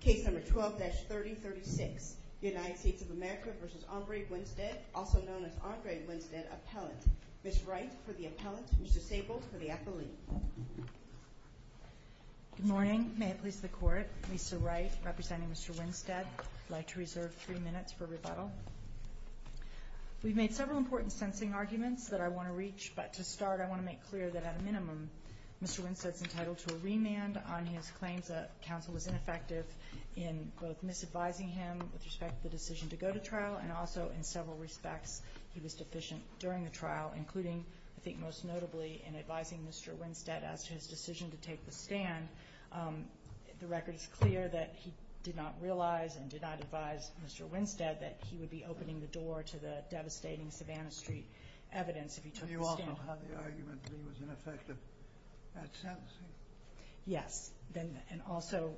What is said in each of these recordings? Case number 12-3036, United States of America v. Aumbrey Winstead, also known as Andre Winstead, Appellant. Ms. Wright for the Appellant, Ms. Disabled for the Affiliate. Good morning. May it please the Court, Lisa Wright representing Mr. Winstead. I'd like to reserve three minutes for rebuttal. We've made several important sensing arguments that I want to reach, but to start I want to make clear that at a minimum Mr. Winstead's entitled to a remand on his claims that counsel was ineffective in both misadvising him with respect to the decision to go to trial and also in several respects he was deficient during the trial, including, I think most notably, in advising Mr. Winstead as to his decision to take the stand. The record is clear that he did not realize and did not advise Mr. Winstead that he would be opening the door to the devastating Savannah Street evidence if he took the stand. I don't know how the argument was ineffective at sentencing. Yes, and also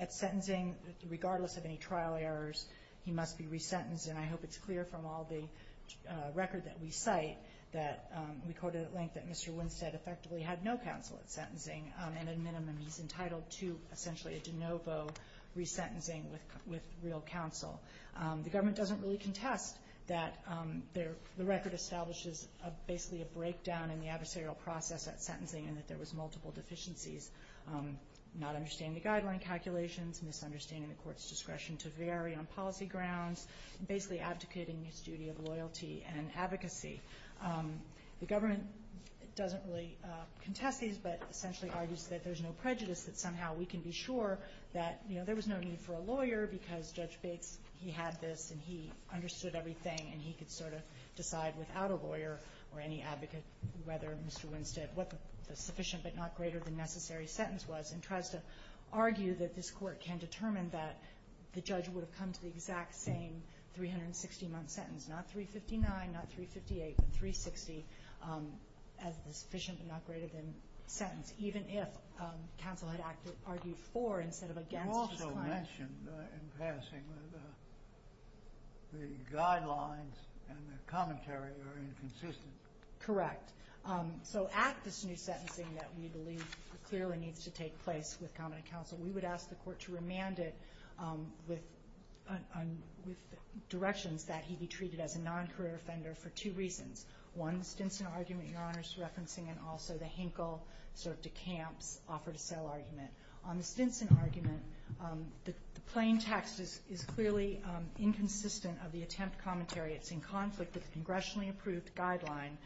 at sentencing, regardless of any trial errors, he must be resentenced. And I hope it's clear from all the record that we cite that we quoted at length that Mr. Winstead effectively had no counsel at sentencing and at minimum he's entitled to essentially a de novo resentencing with real counsel. The government doesn't really contest that the record establishes basically a breakdown in the adversarial process at sentencing and that there was multiple deficiencies, not understanding the guideline calculations, misunderstanding the court's discretion to vary on policy grounds, basically abdicating his duty of loyalty and advocacy. The government doesn't really contest these but essentially argues that there's no prejudice, that somehow we can be sure that there was no need for a lawyer because Judge Bates, he had this and he understood everything and he could sort of decide without a lawyer or any advocate whether Mr. Winstead, what the sufficient but not greater than necessary sentence was and tries to argue that this court can determine that the judge would have come to the exact same 360 month sentence, not 359, not 358, but 360 as the sufficient but not greater than sentence, even if counsel had argued for instead of against his client. You also mentioned in passing that the guidelines and the commentary are inconsistent. Correct. So at this new sentencing that we believe clearly needs to take place with comment of counsel, we would ask the court to remand it with directions that he be treated as a non-career offender for two reasons. One, the Stinson argument Your Honor is referencing and also the Henkel sort of decamps offer to sell argument. On the Stinson argument, the plain text is clearly inconsistent of the attempt commentary. It's in conflict with the congressionally approved guideline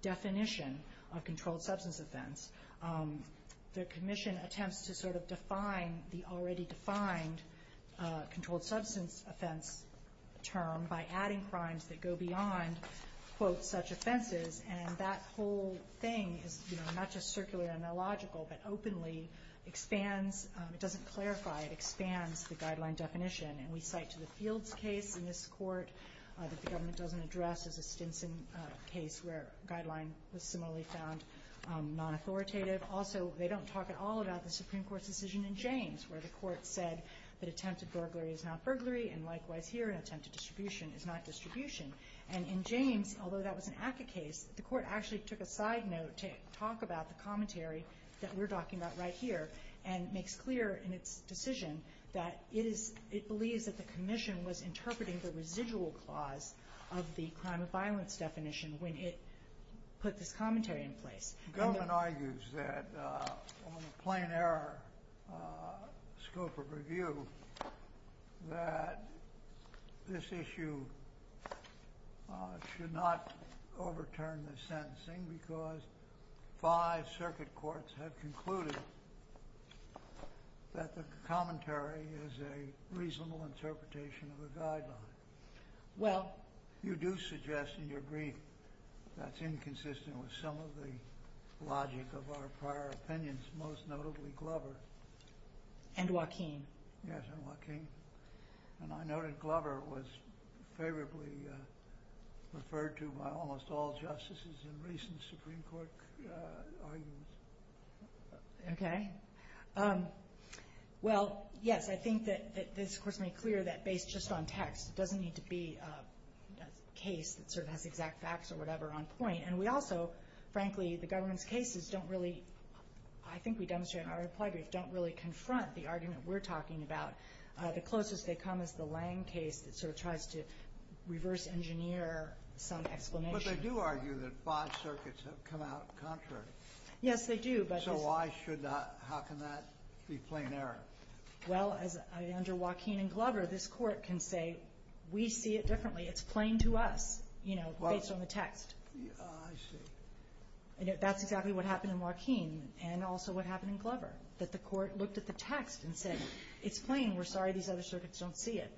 definition of controlled substance offense. The commission attempts to sort of define the already defined controlled substance offense term by adding crimes that go beyond, quote, such offenses. And that whole thing is not just circular and illogical, but openly expands. It doesn't clarify. It expands the guideline definition. And we cite to the Fields case in this court that the government doesn't address as a Stinson case where a guideline was similarly found non-authoritative. Also, they don't talk at all about the Supreme Court's decision in James where the court said that attempted burglary is not burglary and likewise here attempted distribution is not distribution. And in James, although that was an ACCA case, the court actually took a side note to talk about the commentary that we're talking about right here and makes clear in its decision that it believes that the commission was interpreting the residual clause of the crime of violence definition when it put this commentary in place. The government argues that on a plain error scope of review that this issue should not overturn the sentencing because five circuit courts have concluded that the commentary is a reasonable interpretation of a guideline. You do suggest in your brief that's inconsistent with some of the logic of our prior opinions, most notably Glover. And Joaquin. Yes, and Joaquin. And I noted Glover was favorably referred to by almost all justices in recent Supreme Court arguments. Okay. Well, yes, I think that this court's made clear that based just on text, it doesn't need to be a case that sort of has exact facts or whatever on point. And we also, frankly, the government's cases don't really, I think we demonstrated in our reply brief, don't really confront the argument we're talking about. The closest they come is the Lange case that sort of tries to reverse engineer some explanation. But they do argue that five circuits have come out contrary. Yes, they do. So how can that be plain error? Well, under Joaquin and Glover, this court can say, we see it differently. It's plain to us, you know, based on the text. I see. That's exactly what happened in Joaquin and also what happened in Glover, that the court looked at the text and said, it's plain. We're sorry these other circuits don't see it.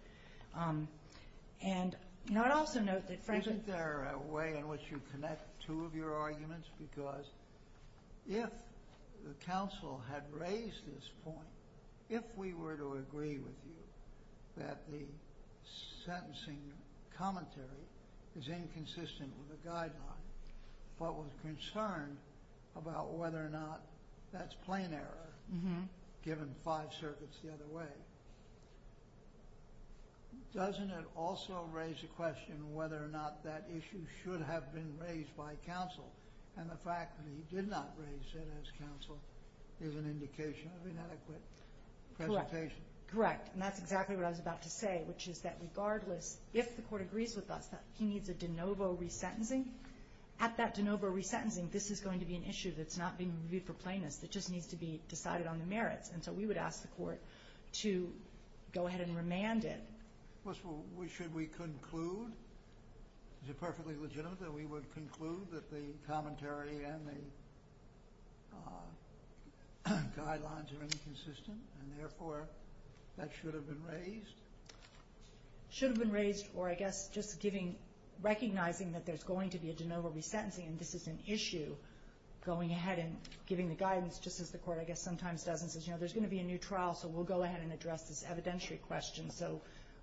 And I'd also note that, frankly— Isn't there a way in which you connect two of your arguments? Because if the counsel had raised this point, if we were to agree with you that the sentencing commentary is inconsistent with the guideline, but was concerned about whether or not that's plain error, given five circuits the other way, doesn't it also raise the question whether or not that issue should have been raised by counsel? And the fact that he did not raise it as counsel is an indication of inadequate presentation. Correct. And that's exactly what I was about to say, which is that regardless, if the court agrees with us that he needs a de novo resentencing, at that de novo resentencing, this is going to be an issue that's not being reviewed for plainness. It just needs to be decided on the merits. And so we would ask the court to go ahead and remand it. Should we conclude? Is it perfectly legitimate that we would conclude that the commentary and the guidelines are inconsistent? And therefore, that should have been raised? Should have been raised, or I guess just recognizing that there's going to be a de novo resentencing and this is an issue, going ahead and giving the guidance, just as the court I guess sometimes does and says, you know, there's going to be a new trial, so we'll go ahead and address this evidentiary question so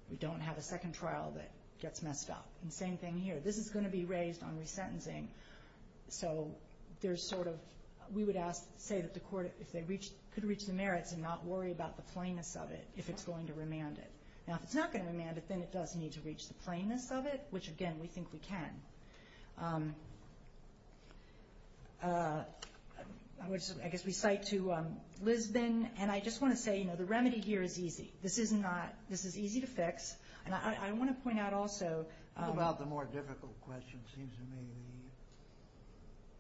we don't have a second trial that gets messed up. And same thing here. This is going to be raised on resentencing, so there's sort of, we would say that the court, if they could reach the merits and not worry about the plainness of it, if it's going to remand it. Now, if it's not going to remand it, then it does need to reach the plainness of it, which, again, we think we can. I guess we cite to Lisbon, and I just want to say, you know, the remedy here is easy. This is easy to fix, and I want to point out also What about the more difficult question, seems to me,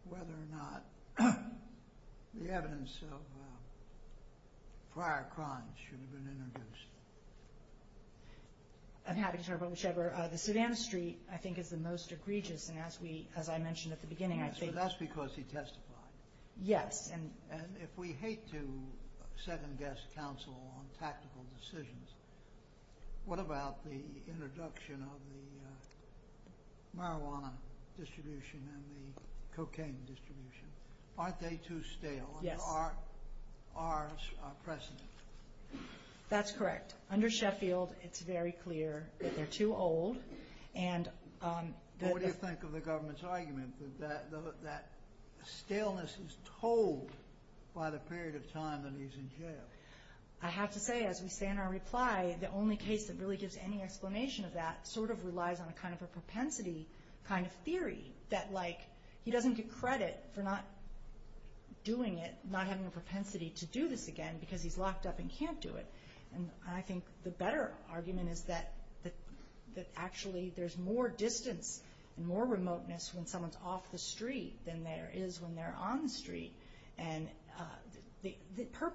whether or not the evidence of prior crimes should have been introduced? I'm happy to talk about whichever. The Savannah Street, I think, is the most egregious, and as we, as I mentioned at the beginning, I think That's because he testified. Yes. And if we hate to second-guess counsel on tactical decisions, what about the introduction of the marijuana distribution and the cocaine distribution? Aren't they too stale under our precedent? That's correct. Under Sheffield, it's very clear that they're too old, and What do you think of the government's argument that that staleness is told by the period of time that he's in jail? I have to say, as we say in our reply, the only case that really gives any explanation of that sort of relies on a kind of a propensity kind of theory, that, like, he doesn't get credit for not doing it, not having the propensity to do this again, because he's locked up and can't do it. And I think the better argument is that actually there's more distance and more remoteness when someone's off the street than there is when they're on the street. And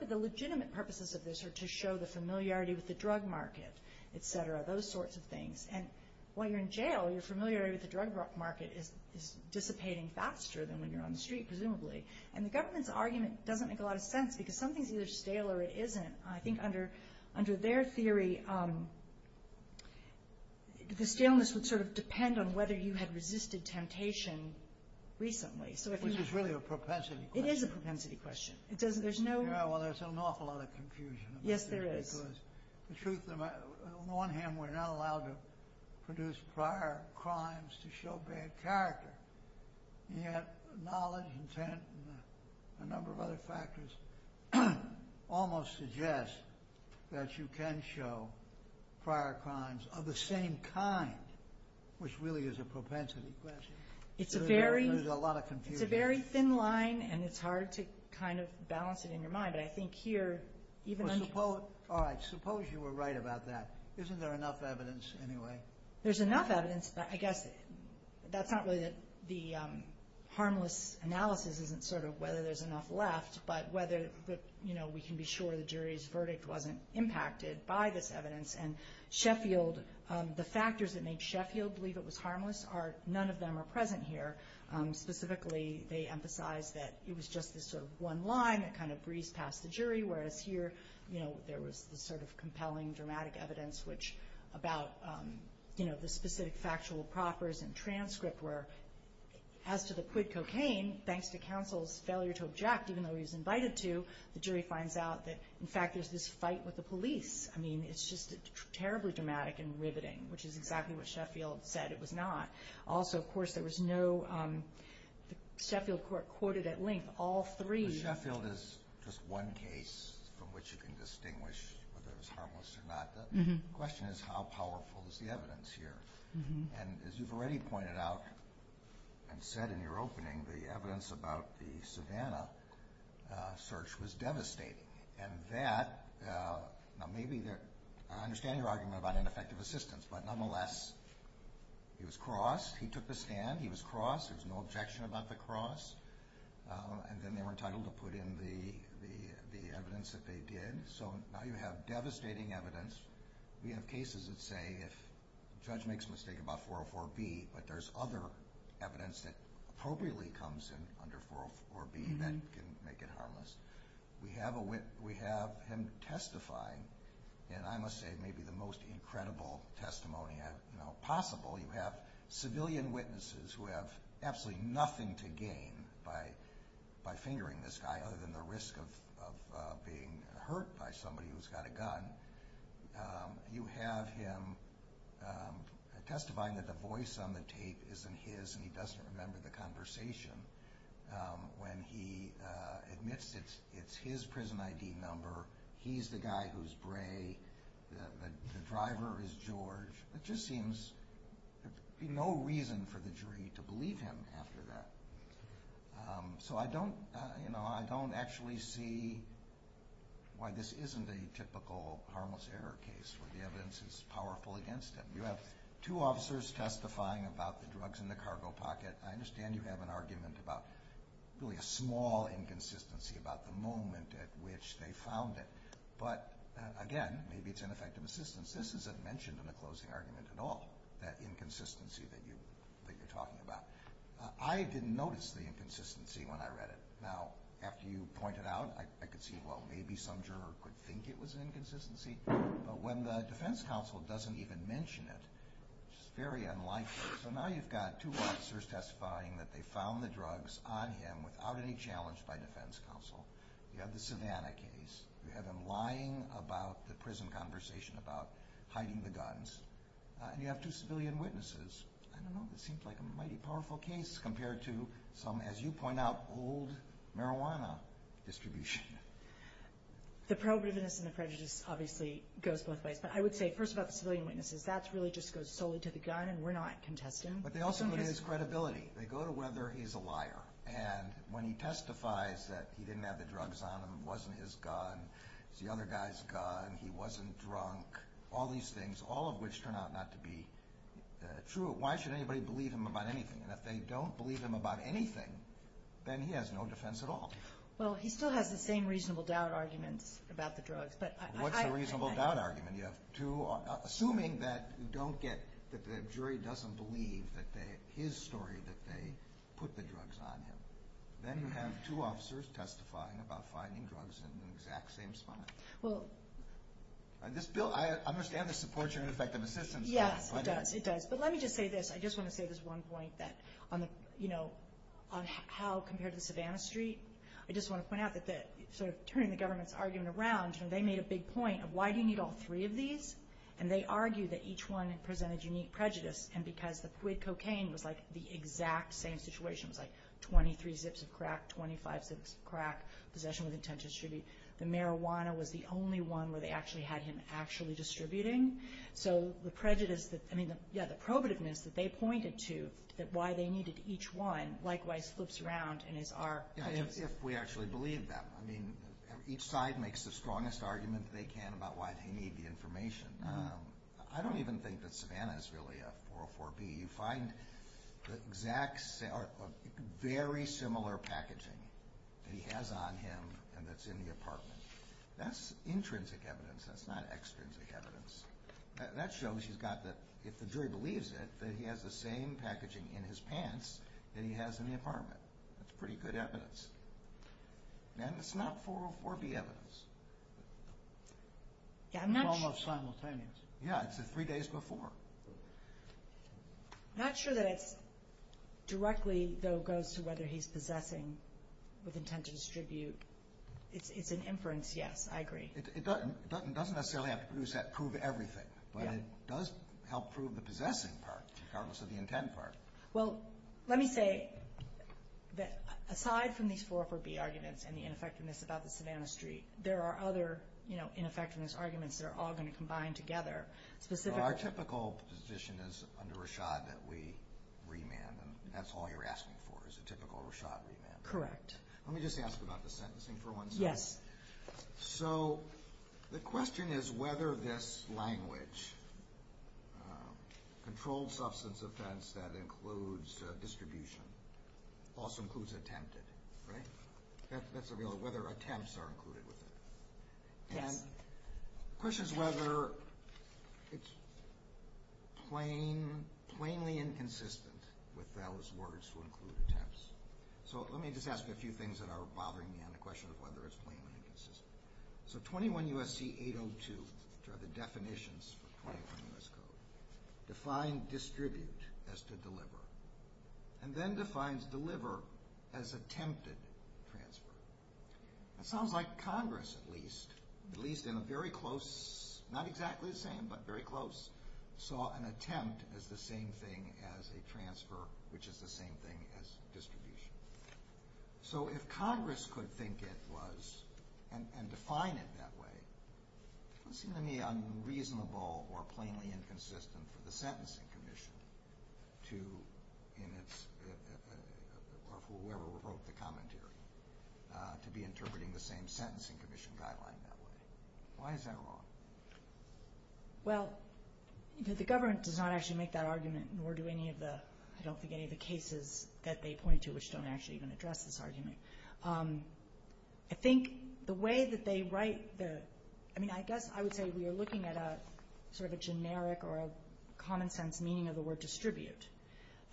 the legitimate purposes of this are to show the familiarity with the drug market, et cetera, those sorts of things. And while you're in jail, your familiarity with the drug market is dissipating faster than when you're on the street, presumably. And the government's argument doesn't make a lot of sense, because something's either stale or it isn't. And I think under their theory, the staleness would sort of depend on whether you had resisted temptation recently. Which is really a propensity question. It is a propensity question. Yeah, well, there's an awful lot of confusion. Yes, there is. The truth of the matter, on the one hand, we're not allowed to produce prior crimes to show bad character, and yet knowledge, intent, and a number of other factors almost suggest that you can show prior crimes of the same kind, which really is a propensity question. There's a lot of confusion. It's a very thin line, and it's hard to kind of balance it in your mind. But I think here, even... All right, suppose you were right about that. Isn't there enough evidence anyway? There's enough evidence. I guess that's not really that the harmless analysis isn't sort of whether there's enough left, but whether we can be sure the jury's verdict wasn't impacted by this evidence. And Sheffield, the factors that made Sheffield believe it was harmless, none of them are present here. Specifically, they emphasize that it was just this sort of one line that kind of breezed past the jury, whereas here there was this sort of compelling, dramatic evidence, which about the specific factual propers and transcript where, as to the quid cocaine, thanks to counsel's failure to object, even though he was invited to, the jury finds out that, in fact, there's this fight with the police. I mean, it's just terribly dramatic and riveting, which is exactly what Sheffield said it was not. Also, of course, there was no... Sheffield court quoted at length all three... Sheffield is just one case from which you can distinguish whether it was harmless or not. The question is how powerful is the evidence here? And as you've already pointed out and said in your opening, the evidence about the Savannah search was devastating, and that... Now, maybe they're... I understand your argument about ineffective assistance, but nonetheless, he was crossed, he took the stand, he was crossed, there was no objection about the cross, and then they were entitled to put in the evidence that they did. So now you have devastating evidence. We have cases that say if the judge makes a mistake about 404B, but there's other evidence that appropriately comes in under 404B that can make it harmless. We have him testifying in, I must say, maybe the most incredible testimony possible. You have civilian witnesses who have absolutely nothing to gain by fingering this guy, other than the risk of being hurt by somebody who's got a gun. You have him testifying that the voice on the tape isn't his and he doesn't remember the conversation when he admits it's his prison ID number, he's the guy who's bray, the driver is George. It just seems there'd be no reason for the jury to believe him after that. So I don't actually see why this isn't a typical harmless error case where the evidence is powerful against him. You have two officers testifying about the drugs in the cargo pocket. I understand you have an argument about really a small inconsistency about the moment at which they found it. But again, maybe it's ineffective assistance. This isn't mentioned in the closing argument at all, that inconsistency that you're talking about. I didn't notice the inconsistency when I read it. Now, after you point it out, I could see, well, maybe some juror could think it was an inconsistency. But when the defense counsel doesn't even mention it, it's very unlikely. So now you've got two officers testifying that they found the drugs on him without any challenge by defense counsel. You have the Savannah case. You have him lying about the prison conversation about hiding the guns. And you have two civilian witnesses. I don't know if it seems like a mighty powerful case compared to some, as you point out, old marijuana distribution. The prohibitiveness and the prejudice obviously goes both ways. But I would say first about the civilian witnesses, that really just goes solely to the gun, and we're not contesting. But they also go to his credibility. They go to whether he's a liar. And when he testifies that he didn't have the drugs on him, it wasn't his gun, it was the other guy's gun, he wasn't drunk, all these things, all of which turn out not to be true. Why should anybody believe him about anything? And if they don't believe him about anything, then he has no defense at all. Well, he still has the same reasonable doubt arguments about the drugs. What's the reasonable doubt argument? Assuming that you don't get that the jury doesn't believe his story that they put the drugs on him. Then you have two officers testifying about finding drugs in the exact same spot. This bill, I understand this supports your ineffective assistance. Yes, it does. But let me just say this. I just want to say this one point on how compared to the Savannah Street, I just want to point out that turning the government's argument around, they made a big point of why do you need all three of these, and they argued that each one presented unique prejudice. And because the quid cocaine was like the exact same situation, it was like 23 zips of crack, 25 zips of crack, possession with intent to distribute. The marijuana was the only one where they actually had him actually distributing. So the prejudice that, I mean, yeah, the probativeness that they pointed to, that why they needed each one, likewise flips around and is our prejudice. Yeah, if we actually believe them. I mean, each side makes the strongest argument they can about why they need the information. I don't even think that Savannah is really a 404B. You find exact, very similar packaging that he has on him and that's in the apartment. That's intrinsic evidence. That's not extrinsic evidence. That shows you've got the, if the jury believes it, that he has the same packaging in his pants that he has in the apartment. That's pretty good evidence. And it's not 404B evidence. It's almost simultaneous. Yeah, it's the three days before. I'm not sure that it's directly, though, goes to whether he's possessing with intent to distribute. It's an inference, yes, I agree. It doesn't necessarily have to prove everything, but it does help prove the possessing part regardless of the intent part. Well, let me say that aside from these 404B arguments and the ineffectiveness about the Savannah Street, there are other ineffectiveness arguments that are all going to combine together. Our typical position is under Rashad that we remand, and that's all you're asking for is a typical Rashad remand. Correct. Let me just ask about the sentencing for one second. Yes. So the question is whether this language, controlled substance offense that includes distribution, also includes attempted, right? That's available, whether attempts are included with it. Yes. And the question is whether it's plainly inconsistent with those words to include attempts. So let me just ask a few things that are bothering me on the question of whether it's plainly inconsistent. So 21 U.S.C. 802, which are the definitions for 21 U.S. Code, defined distribute as to deliver and then defines deliver as attempted transfer. That sounds like Congress at least, at least in a very close, not exactly the same, but very close, saw an attempt as the same thing as a transfer, which is the same thing as distribution. So if Congress could think it was and define it that way, it doesn't seem to me unreasonable or plainly inconsistent for the Sentencing Commission to in its, of whoever wrote the commentary, to be interpreting the same sentencing commission guideline that way. Why is that wrong? Well, the government does not actually make that argument, nor do any of the, I don't think any of the cases that they point to, which don't actually even address this argument. I think the way that they write the, I mean, I guess I would say we are looking at a, sort of a generic or a common sense meaning of the word distribute.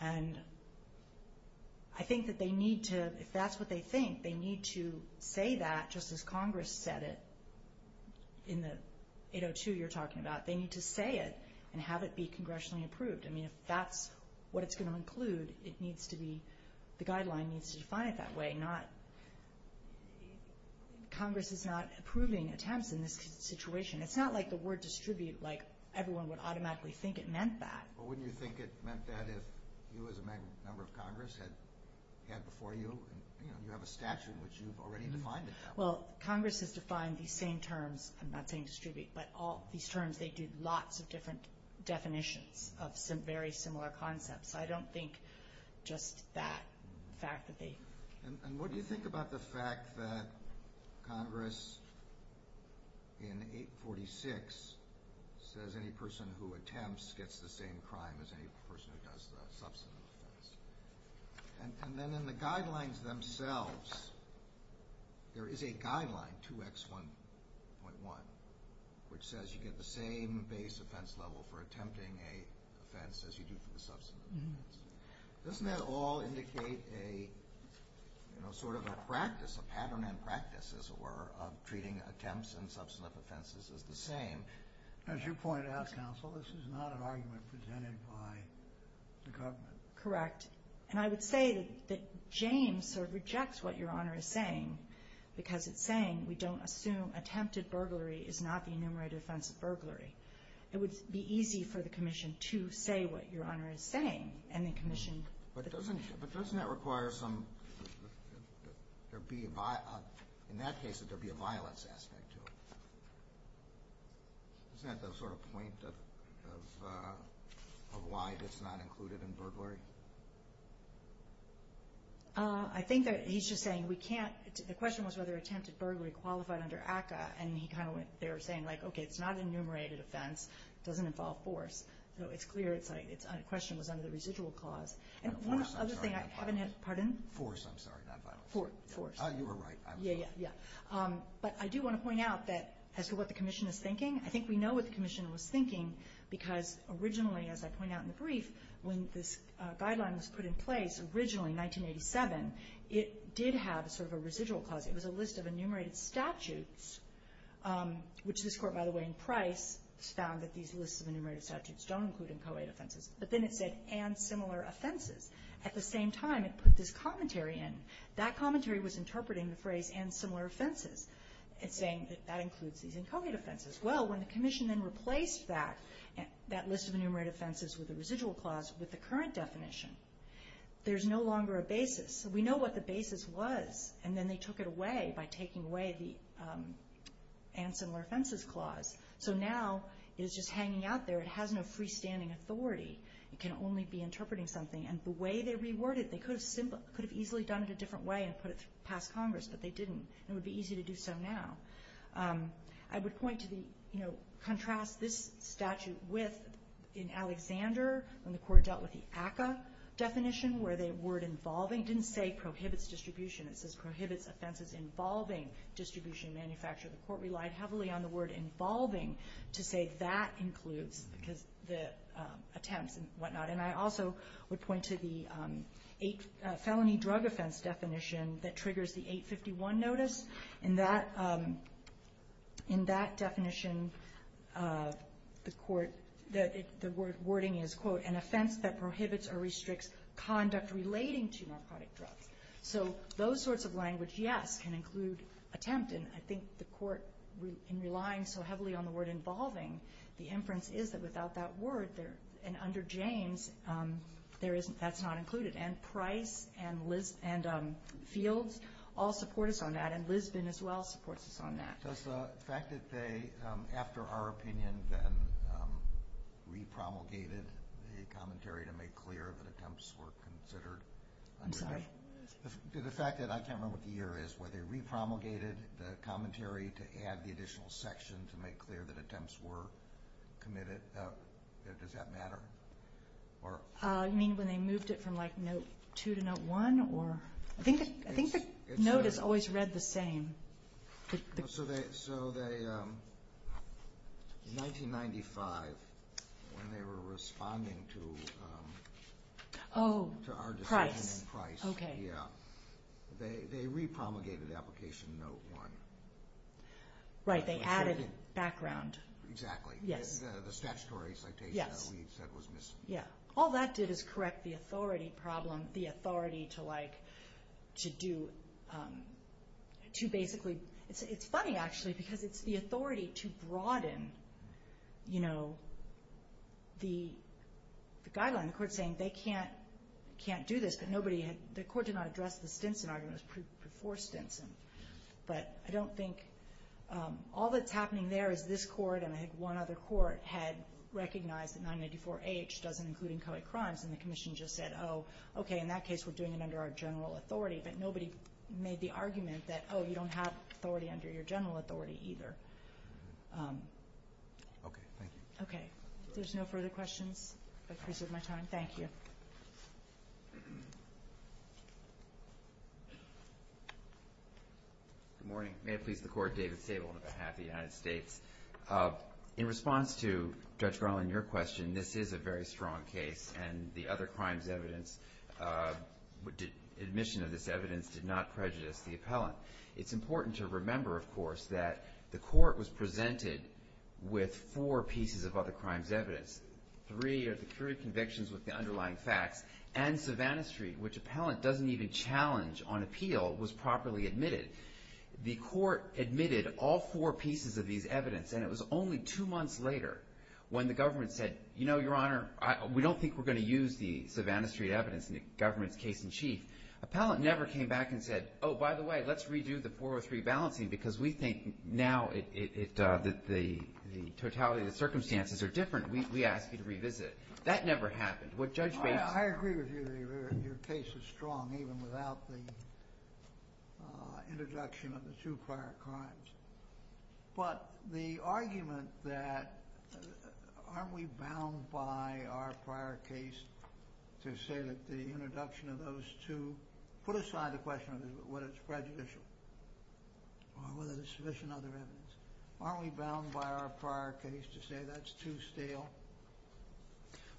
And I think that they need to, if that's what they think, they need to say that just as Congress said it in the 802 you're talking about. They need to say it and have it be congressionally approved. I mean, if that's what it's going to include, it needs to be, the guideline needs to define it that way, not, Congress is not approving attempts in this situation. It's not like the word distribute, like everyone would automatically think it meant that. Well, wouldn't you think it meant that if you as a member of Congress had, had before you, you know, you have a statute which you've already defined it that way? Well, Congress has defined these same terms, I'm not saying distribute, but all these terms, they do lots of different definitions of some very similar concepts. I don't think just that fact that they. And what do you think about the fact that Congress in 846 says any person who attempts gets the same crime as any person who does the substantive offense? And then in the guidelines themselves, there is a guideline, 2X1.1, which says you get the same base offense level for attempting an offense as you do for the substantive offense. Doesn't that all indicate a, you know, sort of a practice, a pattern and practice, as it were, of treating attempts and substantive offenses as the same? As you point out, counsel, this is not an argument presented by the government. Correct. And I would say that James sort of rejects what Your Honor is saying, because it's saying we don't assume attempted burglary is not the enumerated offense of burglary. It would be easy for the Commission to say what Your Honor is saying, and then commission. But doesn't that require some, in that case, that there be a violence aspect to it? Isn't that the sort of point of why that's not included in burglary? I think that he's just saying we can't. The question was whether attempted burglary qualified under ACCA, and he kind of went there saying, like, okay, it's not an enumerated offense. It doesn't involve force. So it's clear the question was under the residual clause. And one other thing, I haven't had, pardon? Force, I'm sorry, not violence. Force. You were right. Yeah, yeah, yeah. But I do want to point out that as to what the Commission is thinking, I think we know what the Commission was thinking, because originally, as I point out in the brief, when this guideline was put in place originally in 1987, it did have sort of a residual clause. It found that these lists of enumerated statutes don't include inchoate offenses. But then it said, and similar offenses. At the same time, it put this commentary in. That commentary was interpreting the phrase and similar offenses and saying that that includes these inchoate offenses. Well, when the Commission then replaced that list of enumerated offenses with a residual clause with the current definition, there's no longer a basis. We know what the basis was. And then they took it away by taking away the and similar offenses clause. So now it is just hanging out there. It has no freestanding authority. It can only be interpreting something. And the way they reworded it, they could have easily done it a different way and put it past Congress, but they didn't. It would be easy to do so now. I would point to the contrast this statute with in Alexander when the Court dealt with the ACCA definition where the word involving didn't say prohibits distribution. It says prohibits offenses involving distribution and manufacture. The Court relied heavily on the word involving to say that includes because the attempts and whatnot. And I also would point to the felony drug offense definition that triggers the 851 notice. In that definition, the wording is, quote, an offense that prohibits or restricts conduct relating to narcotic drugs. So those sorts of language, yes, can include attempt. And I think the Court, in relying so heavily on the word involving, the inference is that without that word, and under Janes, that's not included. And Price and Fields all support us on that, and Lisbon as well supports us on that. Does the fact that they, after our opinion, then repromulgated the commentary to make clear that attempts were considered? I'm sorry? The fact that I can't remember what the year is, where they repromulgated the commentary to add the additional section to make clear that attempts were committed, does that matter? You mean when they moved it from, like, Note 2 to Note 1? I think the note is always read the same. So they, in 1995, when they were responding to our decision in Price, they repromulgated Application Note 1. Right, they added background. Exactly. Yes. The statutory citation that we said was missing. Yes. All that did is correct the authority problem, to do, to basically, it's funny, actually, because it's the authority to broaden the guideline. The court's saying they can't do this, but the court did not address the Stinson argument. It was before Stinson. But I don't think, all that's happening there is this court, and I think one other court, had recognized that 994-H doesn't include inchoate crimes, and the Commission just said, oh, okay, in that case, we're doing it under our general authority. But nobody made the argument that, oh, you don't have authority under your general authority either. Okay. Thank you. Okay. If there's no further questions, I've preserved my time. Thank you. Good morning. May it please the Court, David Stable on behalf of the United States. In response to Judge Garland, your question, this is a very strong case, and the other crimes evidence, admission of this evidence did not prejudice the appellant. It's important to remember, of course, that the court was presented with four pieces of other crimes evidence. Three are the crude convictions with the underlying facts, and Savannah Street, which appellant doesn't even challenge on appeal, was properly admitted. The court admitted all four pieces of these evidence, and it was only two months later when the government said, you know, Your Honor, we don't think we're going to use the Savannah Street evidence in the government's case in chief. Appellant never came back and said, oh, by the way, let's redo the 403 balancing, because we think now that the totality of the circumstances are different. We ask you to revisit it. That never happened. I agree with you. Your case is strong, even without the introduction of the two prior crimes. But the argument that aren't we bound by our prior case to say that the introduction of those two put aside the question of whether it's prejudicial or whether there's sufficient other evidence. Aren't we bound by our prior case to say that's too stale?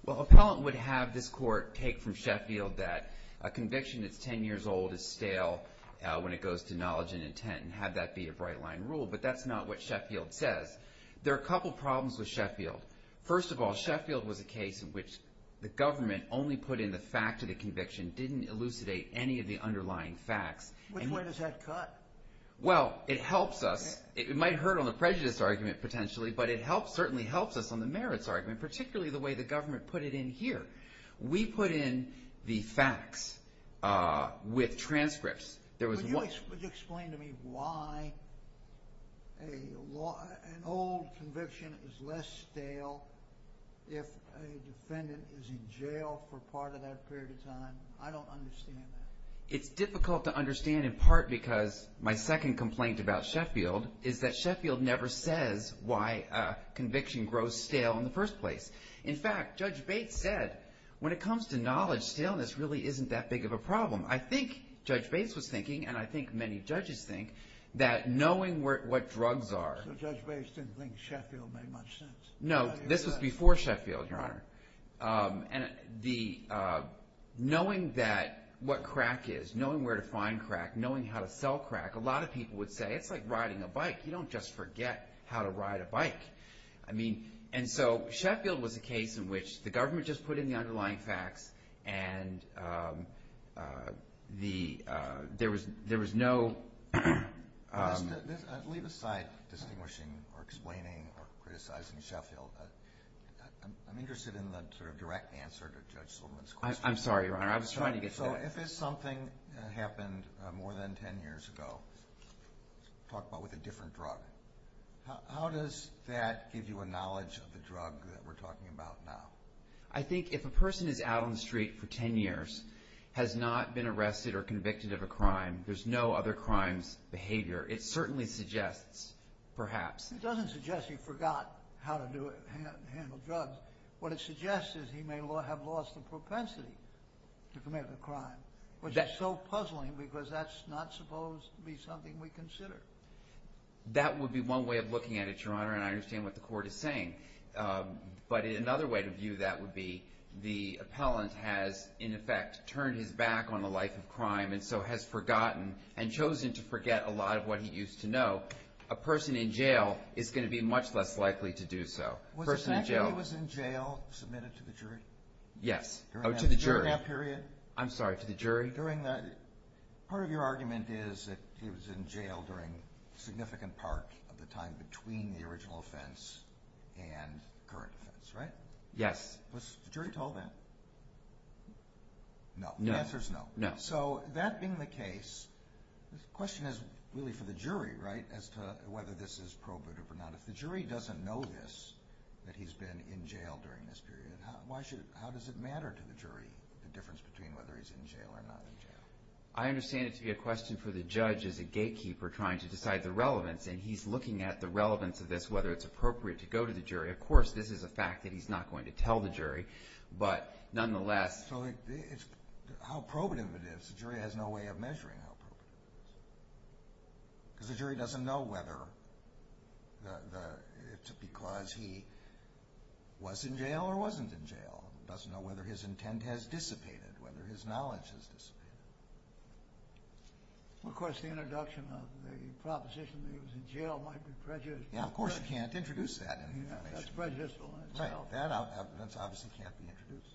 Well, appellant would have this court take from Sheffield that a conviction that's 10 years old is stale when it goes to knowledge and intent, and have that be a bright line rule. But that's not what Sheffield says. There are a couple of problems with Sheffield. First of all, Sheffield was a case in which the government only put in the fact of the conviction didn't elucidate any of the underlying facts. Which way does that cut? Well, it helps us. It might hurt on the prejudice argument potentially, but it helps certainly helps us on the merits argument, particularly the way the government put it in here. We put in the facts with transcripts. Could you explain to me why an old conviction is less stale if a defendant is in jail for part of that period of time? I don't understand that. It's difficult to understand in part because my second complaint about Sheffield is that Sheffield never says why a conviction grows stale in the first place. In fact, Judge Bates said when it comes to knowledge, staleness really isn't that big of a problem. I think Judge Bates was thinking, and I think many judges think that knowing what drugs are. So Judge Bates didn't think Sheffield made much sense. this was before Sheffield, Your Honor. And the knowing that what crack is, knowing where to find crack, knowing how to sell crack. A lot of people would say it's like riding a bike. You don't just forget how to ride a bike. I mean, and so Sheffield was a case in which the government just put in the there was, there was no. Leave aside distinguishing or explaining or criticizing Sheffield. I'm interested in the sort of direct answer to Judge Silverman's question. I'm sorry, Your Honor. I was trying to get. So if it's something that happened more than 10 years ago, talk about with a different drug. How does that give you a knowledge of the drug that we're talking about now? I think if a person is out on the street for 10 years, has not been arrested or convicted of a crime, there's no other crimes behavior. It certainly suggests perhaps. It doesn't suggest you forgot how to do it. Handle drugs. What it suggests is he may have lost the propensity to commit a crime, which is so puzzling because that's not supposed to be something we consider. That would be one way of looking at it, Your Honor. And I understand what the court is saying. But in another way to view, that would be the appellant has, in effect, turned his back on the life of crime and so has forgotten and chosen to forget a lot of what he used to know. A person in jail is going to be much less likely to do so. Was the fact that he was in jail submitted to the jury? Yes. Oh, to the jury. During that period? I'm sorry, to the jury? Part of your argument is that he was in jail during a significant part of the time between the original offense and the current offense, right? Yes. Was the jury told that? No. The answer is no. So that being the case, the question is really for the jury, right, as to whether this is probative or not. If the jury doesn't know this, that he's been in jail during this period, how does it matter to the jury, the difference between whether he's in jail or not in jail? I understand it to be a question for the judge as a gatekeeper trying to decide the relevance, and he's looking at the relevance of this, whether it's appropriate to go to the jury. Of course, this is a fact that he's not going to tell the jury, but nonetheless... How probative it is, the jury has no way of measuring how probative it is. Because the jury doesn't know whether it's because he was in jail or wasn't in jail. It doesn't know whether his intent has dissipated, whether his knowledge has dissipated. Of course, the introduction of the proposition that he was in jail might be prejudiced. Yeah, of course you can't introduce that information. That's prejudicial in itself. Right, that obviously can't be introduced.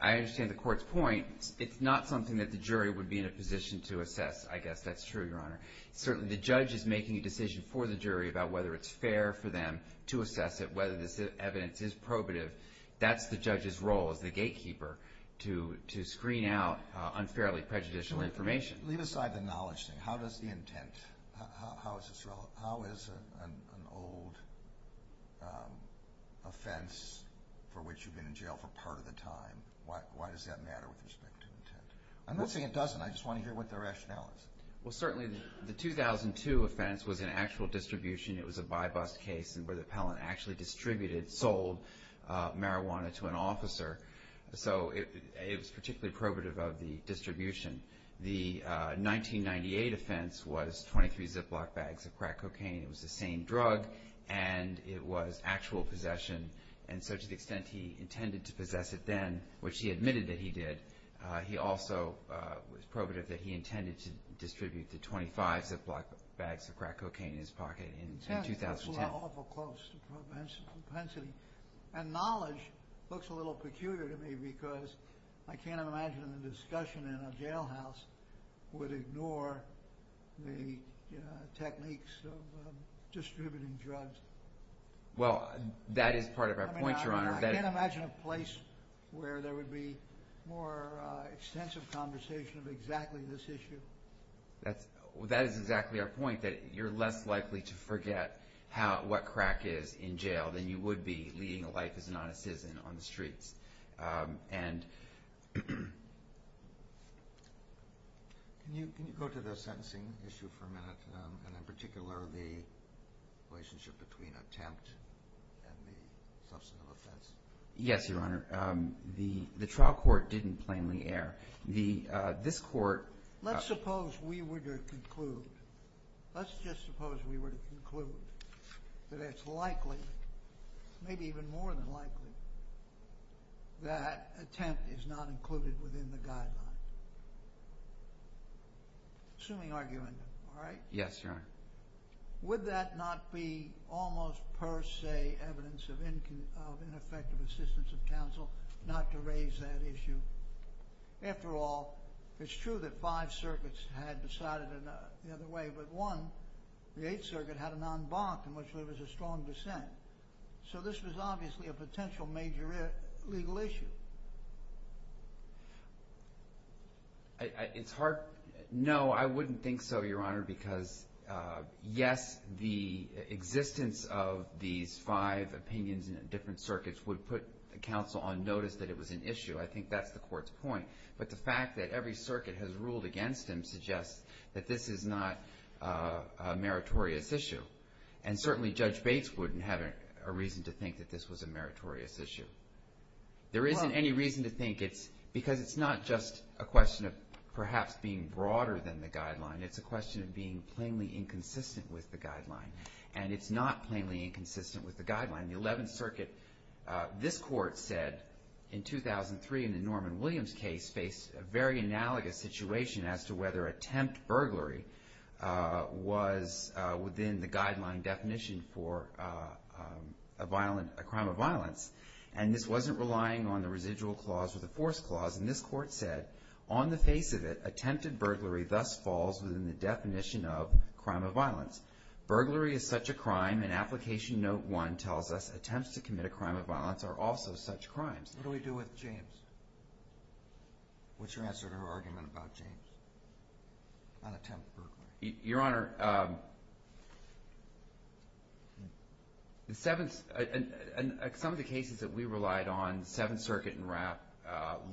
I understand the court's point. It's not something that the jury would be in a position to assess, I guess that's true, Your Honor. Certainly, the judge is making a decision for the jury about whether it's fair for them to assess it, whether this evidence is probative. That's the judge's role as the gatekeeper to screen out unfairly prejudicial information. Leave aside the knowledge thing. How does the intent, how is this relevant? An offense for which you've been in jail for part of the time, why does that matter with respect to intent? I'm not saying it doesn't, I just want to hear what the rationale is. Well, certainly the 2002 offense was an actual distribution. It was a by-bust case where the appellant actually distributed, sold marijuana to an officer. So it was particularly probative of the distribution. The 1998 offense was 23 Ziploc bags of crack cocaine. It was the same drug, and it was actual possession. And so to the extent he intended to possess it then, which he admitted that he did, he also was probative that he intended to distribute the 25 Ziploc bags of crack cocaine in his pocket in 2010. That's awful close to propensity. And knowledge looks a little peculiar to me because I can't imagine a discussion in a jailhouse would ignore the techniques of distributing drugs. Well, that is part of our point, Your Honor. I can't imagine a place where there would be more extensive conversation of exactly this issue. That is exactly our point, that you're less likely to forget what crack is in jail than you would be leading a life as an honest citizen on the streets. And... Can you go to the sentencing issue for a minute, and in particular the relationship between attempt and the substantive offense? Yes, Your Honor. The trial court didn't plainly err. This court... Let's suppose we were to conclude, let's just suppose we were to conclude that it's likely, maybe even more than likely, that attempt is not included within the guideline. Assuming argument, all right? Yes, Your Honor. Would that not be almost per se evidence of ineffective assistance of counsel not to raise that issue? After all, it's true that five circuits had decided the other way, but one, the Eighth Circuit, had an en banc, in which there was a strong dissent. So this was obviously a potential major legal issue. It's hard... No, I wouldn't think so, Your Honor, because, yes, the existence of these five opinions in different circuits would put counsel on notice that it was an issue. I think that's the court's point. But the fact that every circuit has ruled against him suggests that this is not a meritorious issue. And certainly Judge Bates wouldn't have a reason to think that this was a meritorious issue. There isn't any reason to think it's... Because it's not just a question of perhaps being broader than the guideline. It's a question of being plainly inconsistent with the guideline. And it's not plainly inconsistent with the guideline. The Eleventh Circuit... This court said, in 2003, in the Norman Williams case, faced a very analogous situation as to whether attempt burglary was within the guideline definition for a crime of violence. And this wasn't relying on the residual clause or the force clause. And this court said, on the face of it, attempted burglary thus falls within the definition of crime of violence. Burglary is such a crime, and Application Note 1 tells us attempts to commit a crime of violence are also such crimes. What do we do with James? What's your answer to her argument about James? On attempt burglary. Your Honor... Some of the cases that we relied on, Seventh Circuit and Rapp,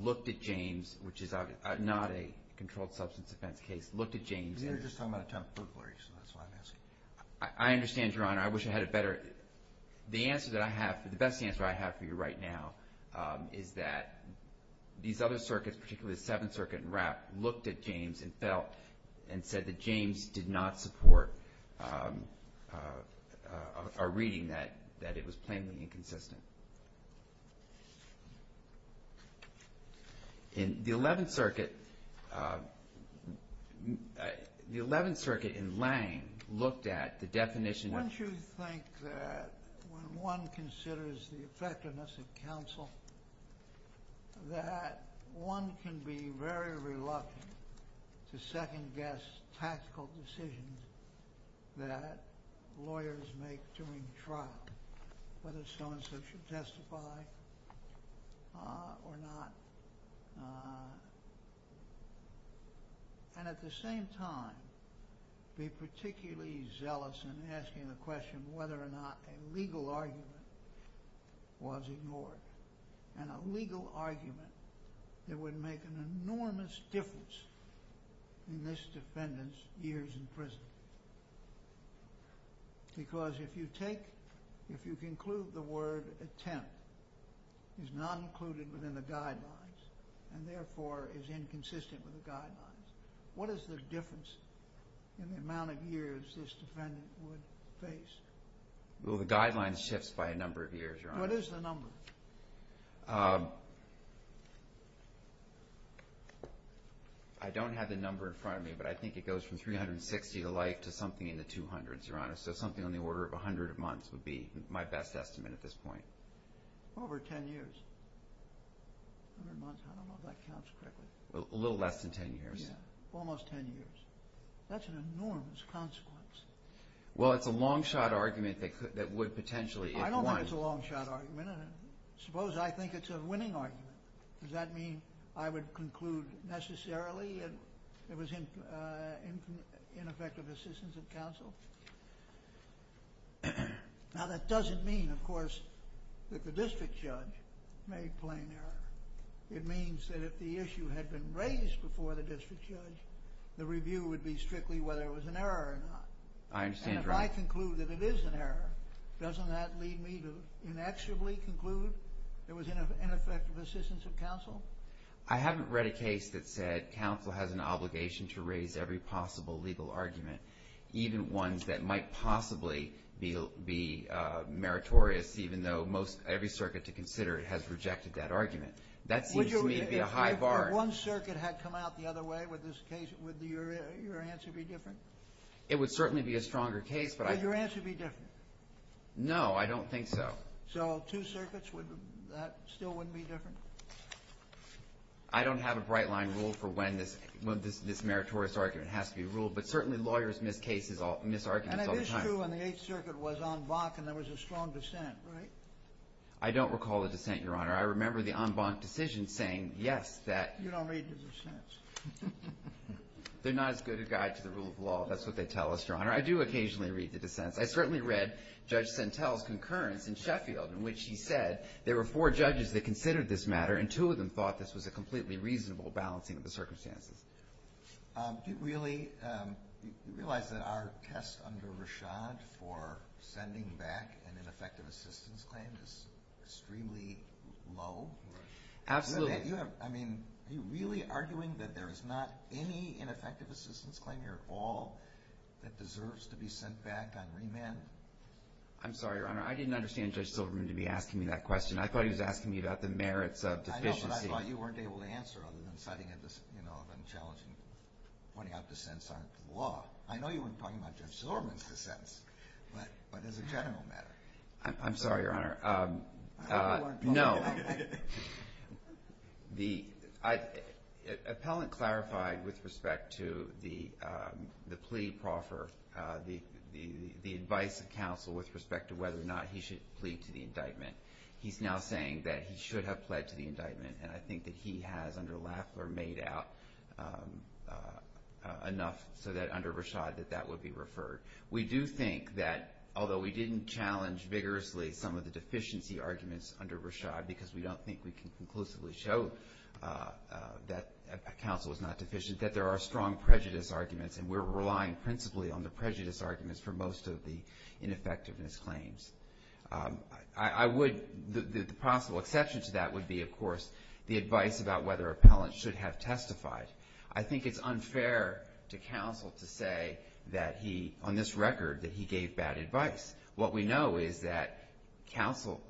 looked at James, which is not a controlled substance offense case, looked at James... You're just talking about attempt burglary, so that's why I'm asking. I understand, Your Honor. I wish I had a better... The answer that I have, the best answer I have for you right now, is that these other circuits, particularly the Seventh Circuit and Rapp, looked at James and felt and said that James did not support our reading that it was plainly inconsistent. In the Eleventh Circuit, the Eleventh Circuit in Lange looked at the definition... that when one considers the effectiveness of counsel, that one can be very reluctant to second-guess tactical decisions that lawyers make during trial, whether so-and-so should testify or not, and at the same time, be particularly zealous in asking the question of whether or not a legal argument was ignored, and a legal argument that would make an enormous difference in this defendant's years in prison. Because if you take... If you conclude the word attempt is not included within the guidelines and therefore is inconsistent with the guidelines, what is the difference in the amount of years this defendant would face? Well, the guidelines shifts by a number of years, Your Honor. What is the number? I don't have the number in front of me, but I think it goes from 360 to life to something in the 200s, Your Honor, so something on the order of 100 months would be my best estimate at this point. Over 10 years. 100 months, I don't know if that counts correctly. A little less than 10 years. Almost 10 years. That's an enormous consequence. Well, it's a long-shot argument that would potentially... I don't think it's a long-shot argument. Suppose I think it's a winning argument. Does that mean I would conclude necessarily it was ineffective assistance of counsel? Now, that doesn't mean, of course, that the district judge made plain error. It means that if the issue had been raised before the district judge, the review would be strictly whether it was an error or not. I understand, Your Honor. And if I conclude that it is an error, doesn't that lead me to inexorably conclude there was ineffective assistance of counsel? I haven't read a case that said counsel has an obligation to raise every possible legal argument, even ones that might possibly be meritorious, even though every circuit to consider has rejected that argument. That seems to me to be a high bar. If one circuit had come out the other way, would your answer be different? It would certainly be a stronger case, but I... Would your answer be different? No, I don't think so. So two circuits, that still wouldn't be different? I don't have a bright-line rule for when this meritorious argument has to be ruled, but certainly lawyers miss arguments all the time. And it is true when the Eighth Circuit was en banc and there was a strong dissent, right? I don't recall a dissent, Your Honor. I remember the en banc decision saying, yes, that... You don't read the dissents. They're not as good a guide to the rule of law. That's what they tell us, Your Honor. I do occasionally read the dissents. I certainly read Judge Sentel's concurrence in Sheffield in which he said there were four judges that considered this matter and two of them thought this was a completely reasonable balancing of the circumstances. Do you really realize that our test under Rashad for sending back an ineffective assistance claim is extremely low? Absolutely. I mean, are you really arguing that there is not any ineffective assistance claim here at all that deserves to be sent back on remand? I'm sorry, Your Honor. I didn't understand Judge Silverman to be asking me that question. I thought he was asking me about the merits of deficiency. I know, but I thought you weren't able to answer other than citing an unchallenging... pointing out dissents aren't the law. I know you weren't talking about Judge Silverman's dissents, but as a general matter. I'm sorry, Your Honor. No. The... Appellant clarified with respect to the plea proffer, the advice of counsel with respect to whether or not he should plead to the indictment. He's now saying that he should have pled to the indictment, and I think that he has, under Lafleur, made out enough under Rashad that that would be referred. We do think that, although we didn't challenge vigorously some of the deficiency arguments under Rashad, because we don't think we can conclusively show that counsel is not deficient, that there are strong prejudice arguments, and we're relying principally on the prejudice arguments for most of the ineffectiveness claims. I would... The possible exception to that would be, of course, the advice about whether appellants should have testified. I think it's unfair to counsel to say that he, on this record, that he gave bad advice. What we know is that counsel,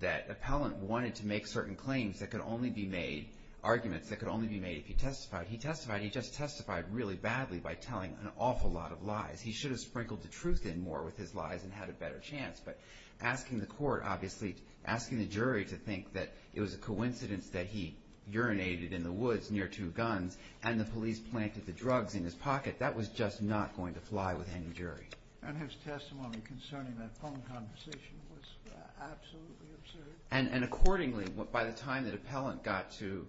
that appellant wanted to make certain claims that could only be made, arguments that could only be made if he testified. He testified, he just testified really badly by telling an awful lot of lies. He should have sprinkled the truth in more with his lies and had a better chance, but asking the court, obviously, asking the jury to think that it was a coincidence that he urinated in the woods near two guns and the police planted the drugs in his pocket, that was just not going to fly with any jury. And his testimony concerning that phone conversation was absolutely absurd. And accordingly, by the time that appellant got to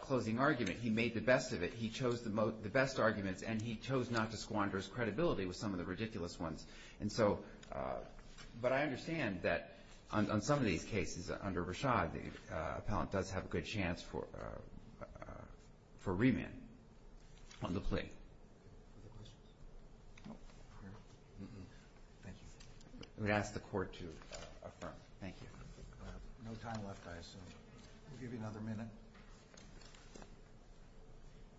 closing argument, he made the best of it. He chose the best arguments, and he chose not to squander his credibility with some of the ridiculous ones. And so... But I understand that on some of these cases, under Rashad, the appellant does have a good chance for remand on the plea. Other questions? No? Thank you. I'm going to ask the court to affirm. Thank you. We have no time left, I assume. We'll give you another minute.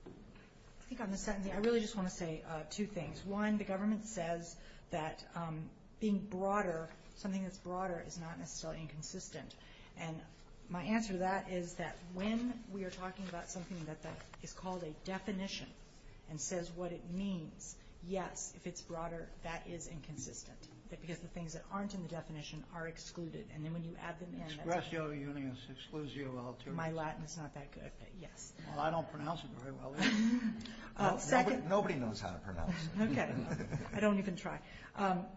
I think on the sentencing, I really just want to say two things. One, the government says that being broader, something that's broader is not necessarily inconsistent. And my answer to that is that when we are talking about something that is called a definition, and says what it means, yes, if it's broader, that is inconsistent. Because the things that aren't in the definition are excluded. And then when you add them in... Expressio unius, exclusio altur. My Latin is not that good, but yes. Well, I don't pronounce it very well either. Nobody knows how to pronounce it. Okay. I don't even try.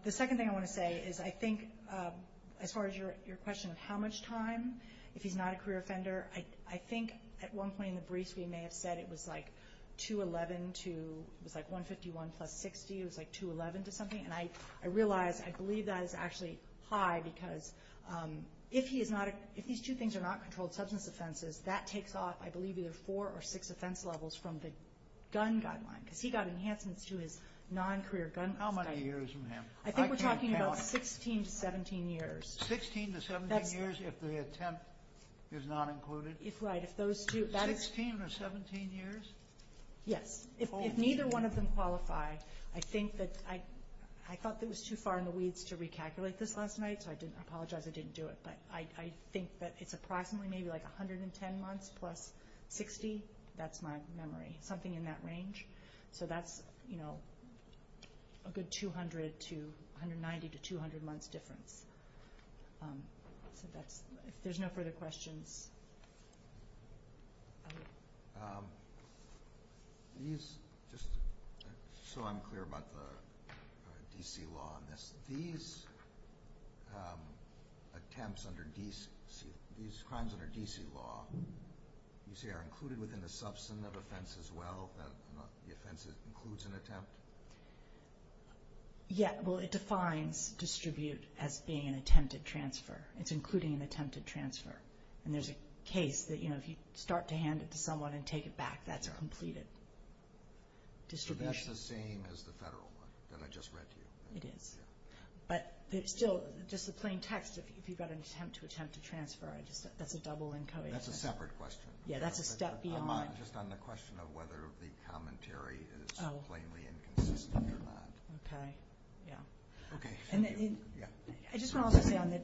The second thing I want to say is, I think as far as your question of how much time, if he's not a career offender, I think at one point in the briefs, we may have said it was like 211 to, it was like 151 plus 60, it was like 211 to something. And I realize, I believe that is actually high, because if these two things are not controlled substance offenses, that takes off, I believe, either four or six offense levels from the gun guideline. Because he got enhancements to his non-career gun... How many years from him? I think we're talking about 16 to 17 years. 16 to 17 years if the attempt is not included? Right, if those two... 16 or 17 years? Yes. If neither one of them qualify, I think that, I thought that was too far in the weeds to recalculate this last night, so I apologize I didn't do it. But I think that it's approximately maybe like 110 months plus 60. That's my memory. Something in that range. So that's, you know, a good 200 to, 190 to 200 months difference. So that's... If there's no further questions... These... Just so I'm clear about the D.C. law on this, these attempts under D.C., these crimes under D.C. law, you say are included within the substance of offense as well, not the offense that includes an attempt? Yeah, well, it defines distribute as being an attempted transfer. It's including an attempted transfer. And there's a case that, you know, if you start to hand it to someone and take it back, that's a completed distribution. So that's the same as the federal one that I just read to you? It is. But still, just the plain text, if you've got an attempt to transfer, that's a double and co-agent. That's a separate question. Yeah, that's a step beyond... Just on the question of whether the commentary is plainly inconsistent or not. Okay, yeah. Okay, thank you. I just want to also say on the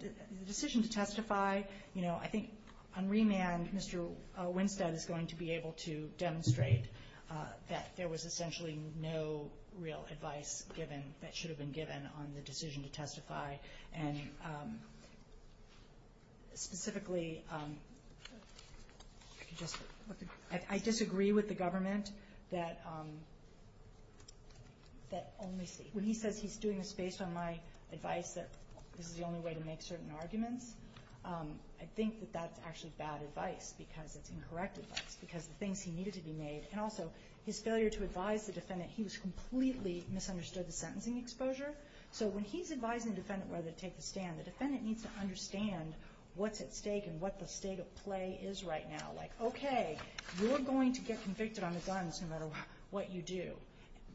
decision to testify, you know, I think on remand, Mr. Winstead is going to be able to demonstrate that there was essentially no real advice given that should have been given on the decision to testify. And specifically, I disagree with the government that only... When he says he's doing this based on my advice that this is the only way to make certain arguments, I think that that's actually bad advice because it's incorrect advice because of the things he needed to be made. And also, his failure to advise the defendant, he was completely misunderstood the sentencing exposure. So when he's advising the defendant whether to take the stand, the defendant needs to understand what's at stake and what the state of play is right now. Like, okay, you're going to get convicted on the guns no matter what you do.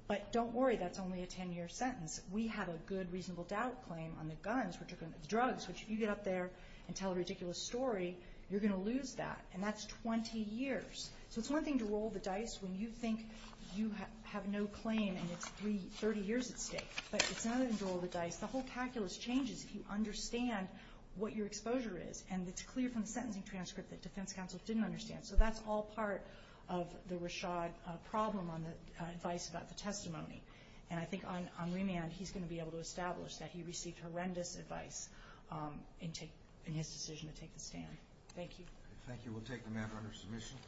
But don't worry, that's only a 10-year sentence. We have a good, reasonable doubt claim on the guns, the drugs, which if you get up there and tell a ridiculous story, you're going to lose that. And that's 20 years. So it's one thing to roll the dice when you think you have no claim and it's 30 years at stake. But it's another thing to roll the dice. The whole calculus changes if you understand what your exposure is. And it's clear from the sentencing transcript that defense counsel didn't understand. So that's all part of the Rashad problem on the advice about the testimony. And I think on remand he's going to be able to establish that he received horrendous advice in his decision to take the stand. Thank you. Thank you. We'll take the matter under submission.